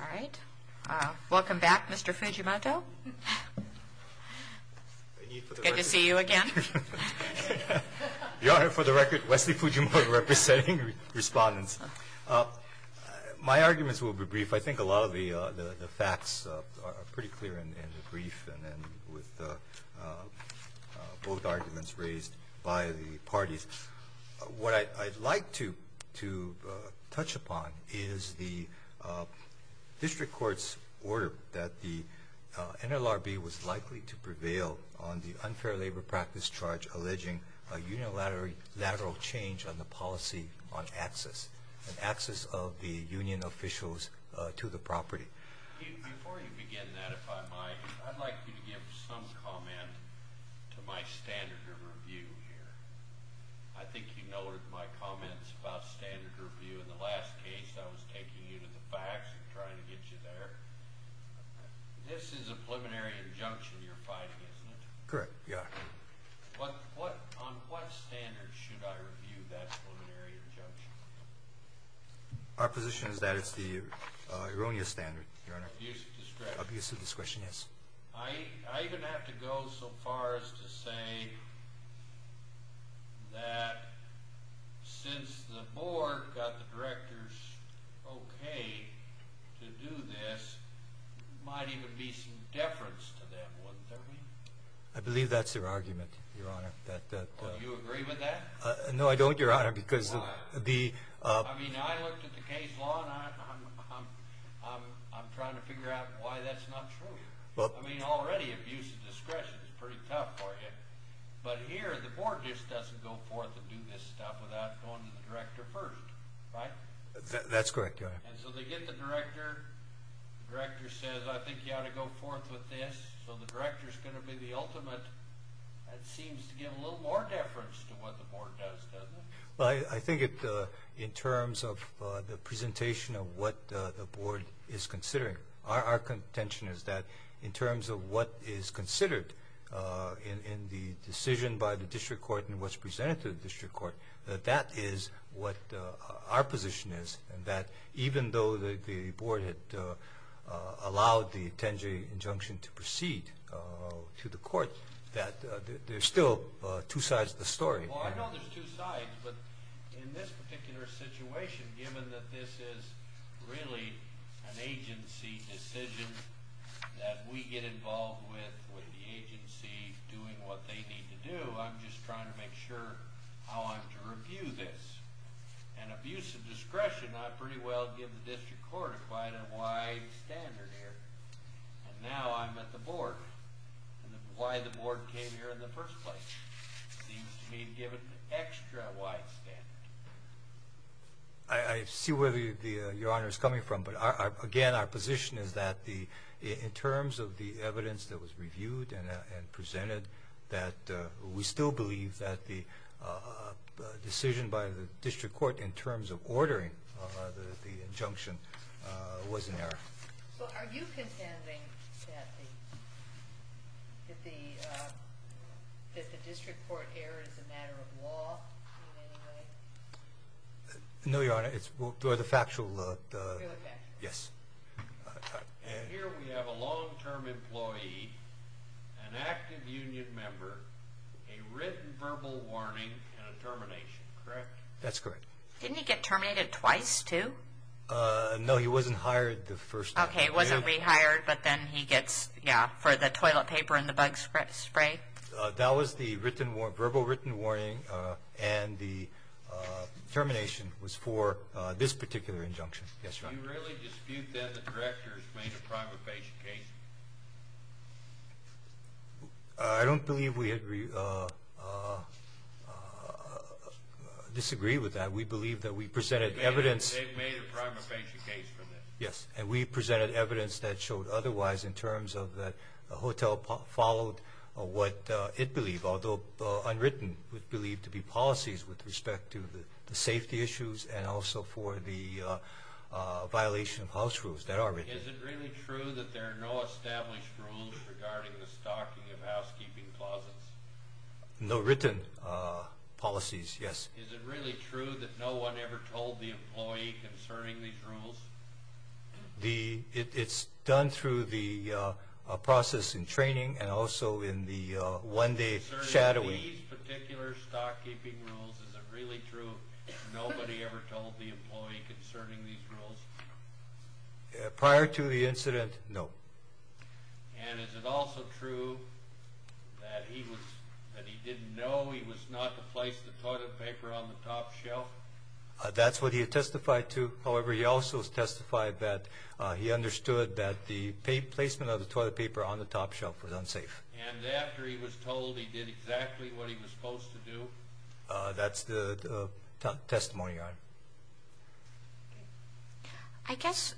All right. Welcome back, Mr. Fujimoto. Good to see you again. Your Honor, for the record, Wesley Fujimoto representing respondents. My arguments will be brief. I think a lot of the facts are pretty clear in the brief and with both arguments raised by the parties. What I'd like to touch upon is the district court's order that the NLRB was likely to prevail on the unfair labor practice charge alleging a unilateral change on the policy on access and access of the union officials to the property. Before you begin that, if I might, I'd like you to give some comment to my standard of review here. I think you noted my comments about standard review in the last case. I was taking you to the facts and trying to get you there. This is a preliminary injunction you're fighting, isn't it? Correct, Your Honor. On what standard should I review that preliminary injunction? Our position is that it's the erroneous standard, Your Honor. Obvious discretion. Obvious discretion, yes. I even have to go so far as to say that since the board got the directors okay to do this, it might even be some deference to them, wouldn't there be? I believe that's your argument, Your Honor. Do you agree with that? No, I don't, Your Honor. I mean, I looked at the case law, and I'm trying to figure out why that's not true. I mean, already, abuse of discretion is pretty tough for you. But here, the board just doesn't go forth and do this stuff without going to the director first, right? That's correct, Your Honor. And so they get the director. The director says, I think you ought to go forth with this. So the director is going to be the ultimate. That seems to give a little more deference to what the board does, doesn't it? Well, I think in terms of the presentation of what the board is considering, our contention is that in terms of what is considered in the decision by the district court and what's presented to the district court, that that is what our position is, and that even though the board had allowed the Tenjie injunction to proceed to the court, that there's still two sides to the story. Well, I know there's two sides, but in this particular situation, given that this is really an agency decision that we get involved with, with the agency doing what they need to do, I'm just trying to make sure how I'm to review this. And abuse of discretion, I pretty well give the district court quite a wide standard here. And now I'm at the board. Why the board came here in the first place seems to me to give it an extra wide standard. I see where Your Honor is coming from, but again, our position is that in terms of the evidence that was reviewed and presented, that we still believe that the decision by the district court in terms of ordering the injunction was an error. So are you contending that the district court error is a matter of law in any way? No, Your Honor, it's the factual, yes. And here we have a long-term employee, an active union member, a written verbal warning, and a termination, correct? That's correct. Didn't he get terminated twice too? No, he wasn't hired the first time. Okay, he wasn't rehired, but then he gets, yeah, for the toilet paper and the bug spray? That was the verbal written warning, and the termination was for this particular injunction. Do you really dispute that the directors made a primary patient case? I don't believe we disagree with that. We believe that we presented evidence. They made a primary patient case for this. Yes, and we presented evidence that showed otherwise in terms of that the hotel followed what it believed, although unwritten, believed to be policies with respect to the safety issues and also for the violation of house rules that are written. Is it really true that there are no established rules regarding the stocking of housekeeping closets? No written policies, yes. Is it really true that no one ever told the employee concerning these rules? It's done through the process in training and also in the one-day shadowing. Is it really true nobody ever told the employee concerning these rules? Prior to the incident, no. And is it also true that he didn't know he was not to place the toilet paper on the top shelf? No, that's what he testified to. However, he also testified that he understood that the placement of the toilet paper on the top shelf was unsafe. And after he was told he did exactly what he was supposed to do? That's the testimony I have. I guess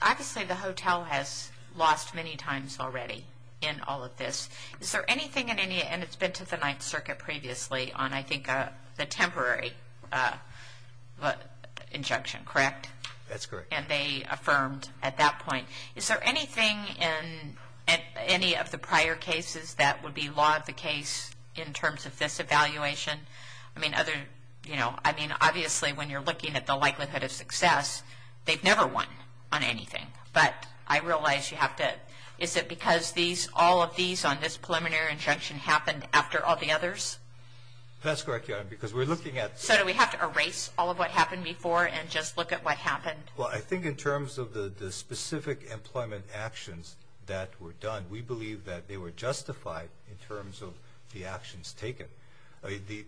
obviously the hotel has lost many times already in all of this. And it's been to the Ninth Circuit previously on, I think, the temporary injunction, correct? That's correct. And they affirmed at that point. Is there anything in any of the prior cases that would be law of the case in terms of this evaluation? I mean, obviously when you're looking at the likelihood of success, they've never won on anything. But I realize you have to – is it because all of these on this preliminary injunction happened after all the others? That's correct, Your Honor, because we're looking at – So do we have to erase all of what happened before and just look at what happened? Well, I think in terms of the specific employment actions that were done, we believe that they were justified in terms of the actions taken. The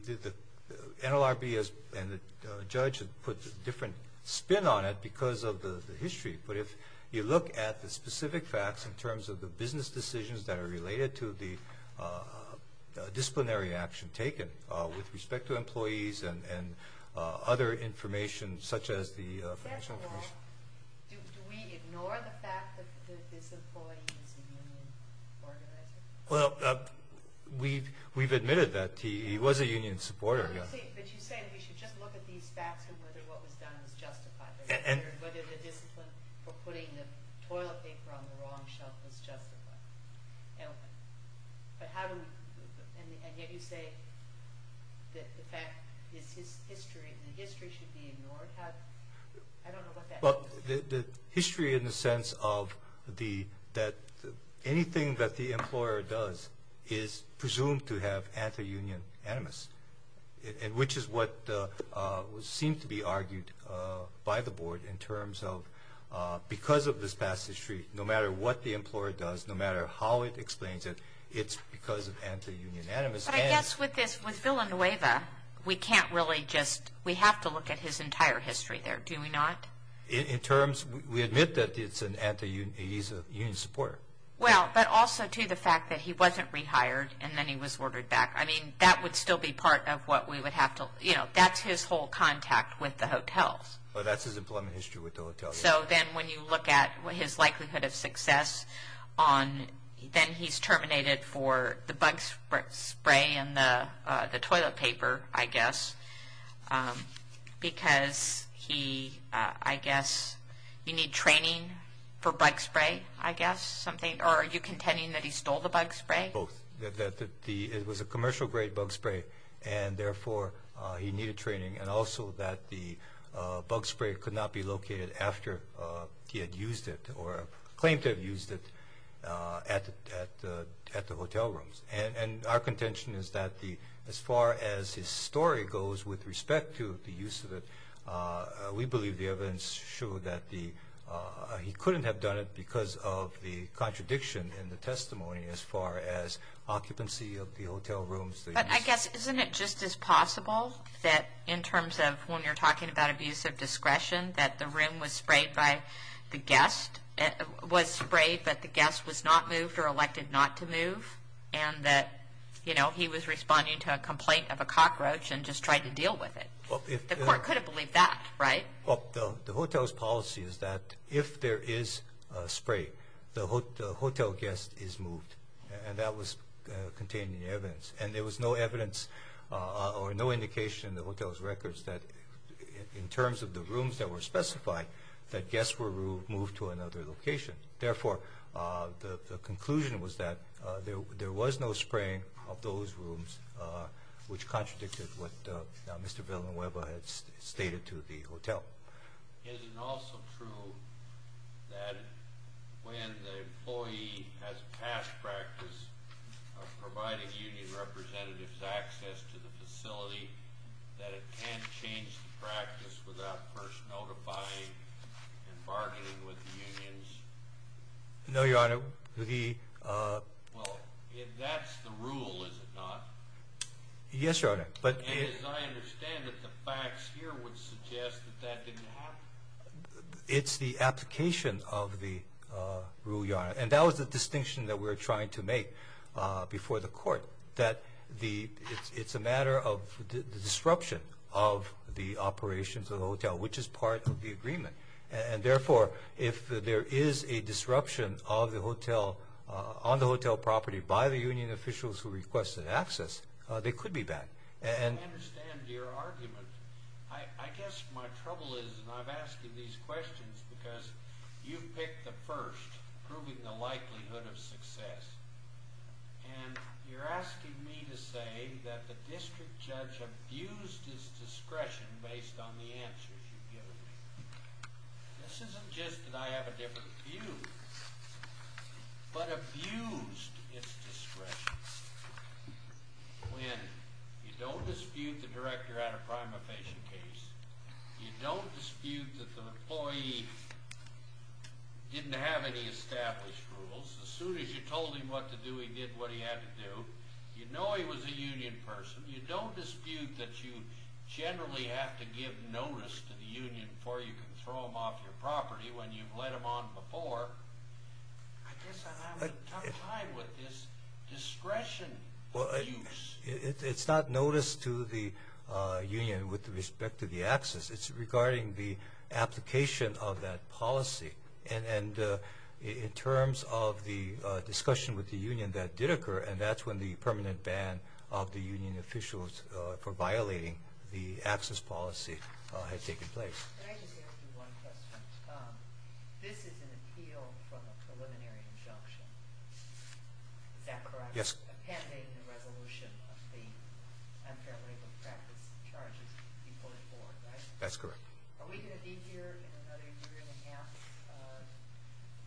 NLRB and the judge put a different spin on it because of the history. But if you look at the specific facts in terms of the business decisions that are related to the disciplinary action taken with respect to employees and other information such as the financial – Do we ignore the fact that this employee is a union organizer? Well, we've admitted that he was a union supporter, yes. But you say we should just look at these facts and whether what was done was justified. And whether the discipline for putting the toilet paper on the wrong shelf was justified. But how do we – and yet you say that the fact is his history, and the history should be ignored. How – I don't know what that means. Well, the history in the sense of the – that anything that the employer does is presumed to have anti-union animus, which is what seemed to be argued by the board in terms of because of this past history, no matter what the employer does, no matter how it explains it, it's because of anti-union animus. But I guess with this – with Villanueva, we can't really just – we have to look at his entire history there, do we not? In terms – we admit that it's an anti-union – he's a union supporter. Well, but also to the fact that he wasn't rehired and then he was ordered back. I mean, that would still be part of what we would have to – you know, that's his whole contact with the hotels. Well, that's his employment history with the hotels. So then when you look at his likelihood of success on – then he's terminated for the bug spray and the toilet paper, I guess, because he – I guess you need training for bug spray, I guess, something. Or are you contending that he stole the bug spray? Both, that it was a commercial-grade bug spray and therefore he needed training and also that the bug spray could not be located after he had used it or claimed to have used it at the hotel rooms. And our contention is that the – as far as his story goes with respect to the use of it, we believe the evidence showed that the – he couldn't have done it because of the contradiction in the testimony as far as occupancy of the hotel rooms. But I guess isn't it just as possible that in terms of when you're talking about abuse of discretion, that the room was sprayed by the guest – was sprayed but the guest was not moved or elected not to move and that, you know, he was responding to a complaint of a cockroach and just tried to deal with it? Well, if – The court could have believed that, right? Well, the hotel's policy is that if there is spray, the hotel guest is moved. And that was contained in the evidence. And there was no evidence or no indication in the hotel's records that in terms of the rooms that were specified, that guests were moved to another location. Therefore, the conclusion was that there was no spraying of those rooms, which contradicted what Mr. Villanueva had stated to the hotel. Is it also true that when the employee has past practice of providing union representatives access to the facility, that it can't change the practice without first notifying and bargaining with the unions? No, Your Honor. Well, if that's the rule, is it not? Yes, Your Honor. And as I understand it, the facts here would suggest that that didn't happen? It's the application of the rule, Your Honor. And that was the distinction that we were trying to make before the court, that it's a matter of the disruption of the operations of the hotel, which is part of the agreement. And therefore, if there is a disruption on the hotel property by the union officials who requested access, they could be banned. I understand your argument. I guess my trouble is, and I've asked you these questions because you've picked the first, proving the likelihood of success. And you're asking me to say that the district judge abused his discretion based on the answers you've given me. This isn't just that I have a different view, but abused his discretion. When you don't dispute the director had a prima facie case, you don't dispute that the employee didn't have any established rules. As soon as you told him what to do, he did what he had to do. You know he was a union person. You don't dispute that you generally have to give notice to the union before you can throw him off your property when you've let him on before. I guess I'm having a tough time with this discretion abuse. It's not notice to the union with respect to the access. It's regarding the application of that policy. And in terms of the discussion with the union that did occur, and that's when the permanent ban of the union officials for violating the access policy had taken place. Can I just ask you one question? This is an appeal from a preliminary injunction. Is that correct? Yes. A mandate and a resolution of the unfair labor practice charges to be pulled forward, right? That's correct. Are we going to be here in another year and a half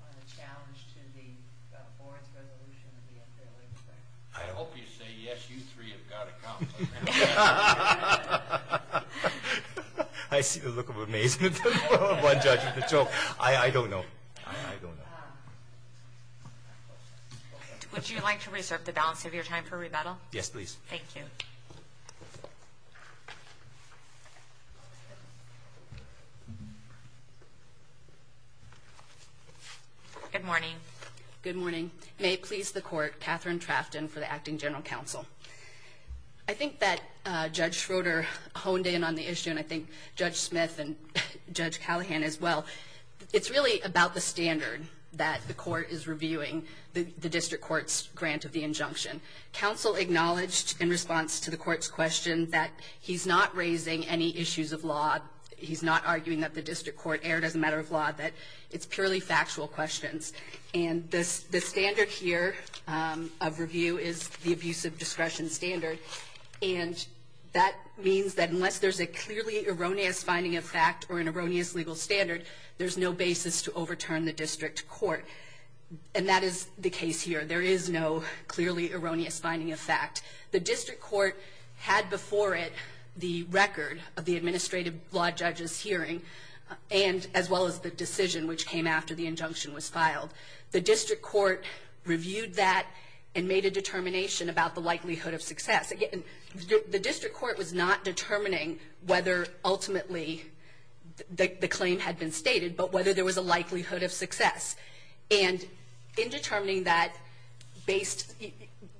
on the challenge to the board's resolution of the unfair labor practice? I hope you say yes, you three have got a compliment. I see the look of amazement from one judge with a joke. I don't know. I don't know. Would you like to reserve the balance of your time for rebuttal? Yes, please. Thank you. Good morning. Good morning. May it please the court, Katherine Trafton for the Acting General Counsel. I think that Judge Schroeder honed in on the issue, and I think Judge Smith and Judge Callahan as well. It's really about the standard that the court is reviewing the district court's grant of the injunction. Counsel acknowledged in response to the court's question that he's not raising any issues of law. He's not arguing that the district court erred as a matter of law, that it's purely factual questions. And the standard here of review is the abusive discretion standard, and that means that unless there's a clearly erroneous finding of fact or an erroneous legal standard, there's no basis to overturn the district court. And that is the case here. There is no clearly erroneous finding of fact. The district court had before it the record of the administrative law judge's hearing, as well as the decision which came after the injunction was filed. The district court reviewed that and made a determination about the likelihood of success. The district court was not determining whether ultimately the claim had been stated, but whether there was a likelihood of success. And in determining that,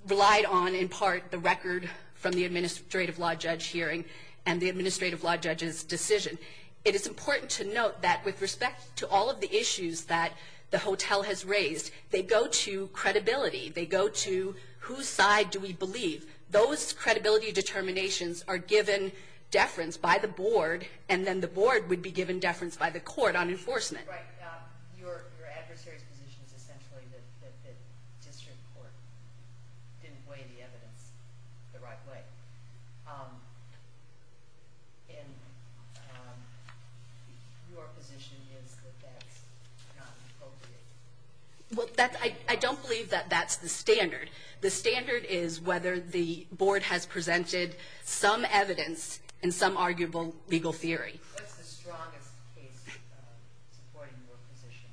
relied on in part the record from the administrative law judge hearing and the administrative law judge's decision. It is important to note that with respect to all of the issues that the hotel has raised, they go to credibility. They go to whose side do we believe. Those credibility determinations are given deference by the board, and then the board would be given deference by the court on enforcement. Right. Your adversary's position is essentially that the district court didn't weigh the evidence the right way. And your position is that that's not appropriate. Well, I don't believe that that's the standard. The standard is whether the board has presented some evidence and some arguable legal theory. What's the strongest case supporting your position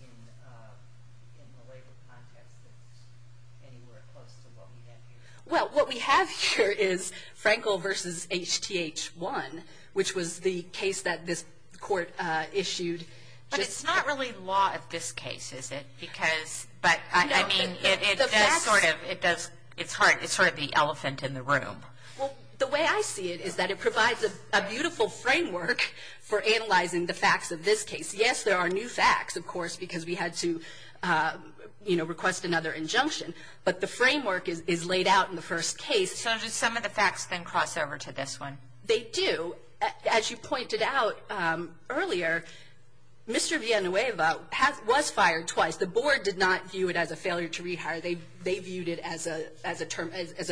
in the legal context that's anywhere close to what we have here? Well, what we have here is Frankel v. HTH 1, which was the case that this court issued. But it's not really law of this case, is it? No. It's sort of the elephant in the room. Well, the way I see it is that it provides a beautiful framework for analyzing the facts of this case. Yes, there are new facts, of course, because we had to request another injunction. But the framework is laid out in the first case. So do some of the facts then cross over to this one? They do. As you pointed out earlier, Mr. Villanueva was fired twice. The board did not view it as a failure to rehire. They viewed it as a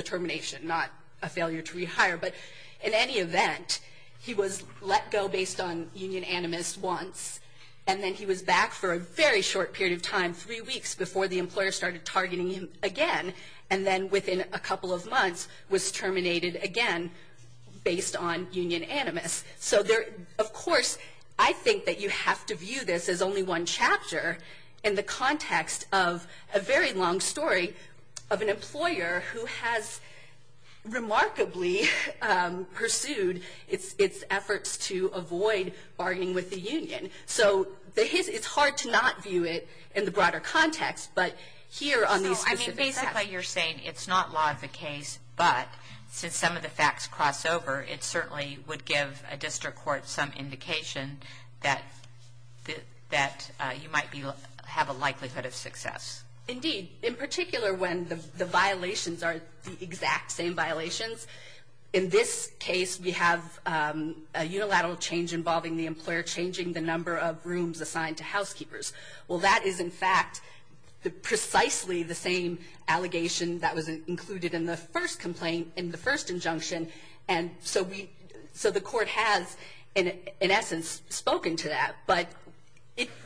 termination, not a failure to rehire. But in any event, he was let go based on union animus once, and then he was back for a very short period of time, three weeks before the employer started targeting him again, and then within a couple of months was terminated again based on union animus. So, of course, I think that you have to view this as only one chapter in the context of a very long story of an employer who has remarkably pursued its efforts to avoid arguing with the union. So it's hard to not view it in the broader context, but here on these specific facts. So, I mean, basically you're saying it's not law of the case, but since some of the facts cross over, it certainly would give a district court some indication that you might have a likelihood of success. Indeed. In particular, when the violations are the exact same violations, in this case we have a unilateral change involving the employer changing the number of rooms assigned to housekeepers. Well, that is, in fact, precisely the same allegation that was included in the first complaint, in the first injunction, and so the court has, in essence, spoken to that. But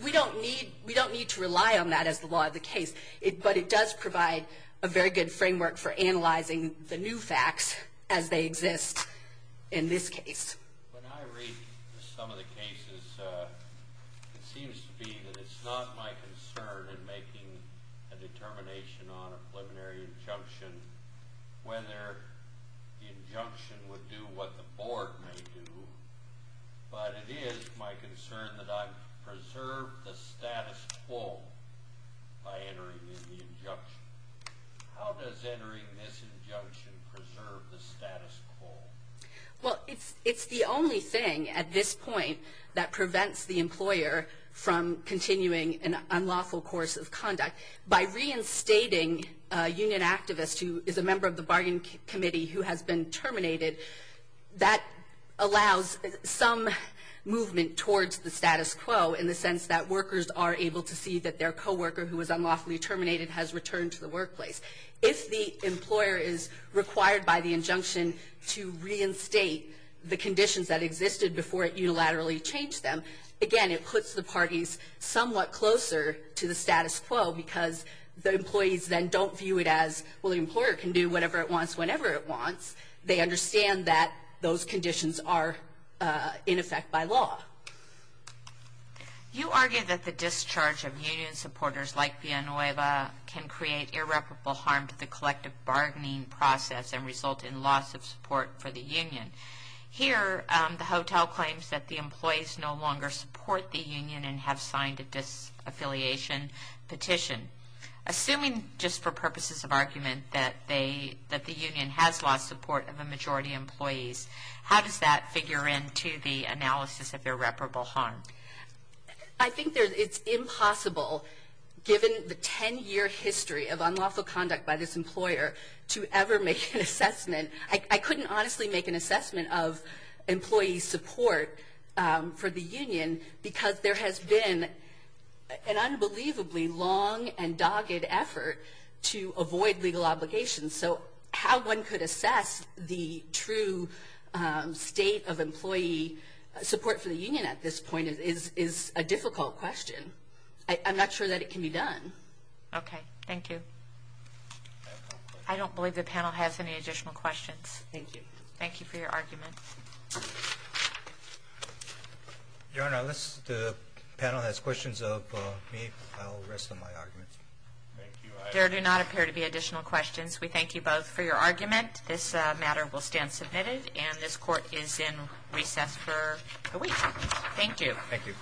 we don't need to rely on that as the law of the case, but it does provide a very good framework for analyzing the new facts as they exist in this case. When I read some of the cases, it seems to be that it's not my concern in making a determination on a preliminary injunction whether the injunction would do what the board may do, but it is my concern that I preserve the status quo by entering in the injunction. How does entering this injunction preserve the status quo? Well, it's the only thing at this point that prevents the employer from continuing an unlawful course of conduct. By reinstating a union activist who is a member of the bargain committee who has been terminated, that allows some movement towards the status quo in the sense that workers are able to see that their co-worker, who was unlawfully terminated, has returned to the workplace. If the employer is required by the injunction to reinstate the conditions that existed before it unilaterally changed them, again, it puts the parties somewhat closer to the status quo because the employees then don't view it as, well, the employer can do whatever it wants whenever it wants. They understand that those conditions are, in effect, by law. You argue that the discharge of union supporters like Villanueva can create irreparable harm to the collective bargaining process and result in loss of support for the union. Here, the hotel claims that the employees no longer support the union and have signed a disaffiliation petition. Assuming, just for purposes of argument, that the union has lost support of a majority of employees, how does that figure into the analysis of irreparable harm? I think it's impossible, given the 10-year history of unlawful conduct by this employer, to ever make an assessment. I couldn't honestly make an assessment of employees' support for the union because there has been an unbelievably long and dogged effort to avoid legal obligations. So how one could assess the true state of employee support for the union at this point is a difficult question. I'm not sure that it can be done. Okay. Thank you. I don't believe the panel has any additional questions. Thank you. Thank you for your argument. Your Honor, unless the panel has questions of me, I'll rest on my argument. There do not appear to be additional questions. We thank you both for your argument. This matter will stand submitted, and this court is in recess for a week. Thank you. Thank you. Thank you.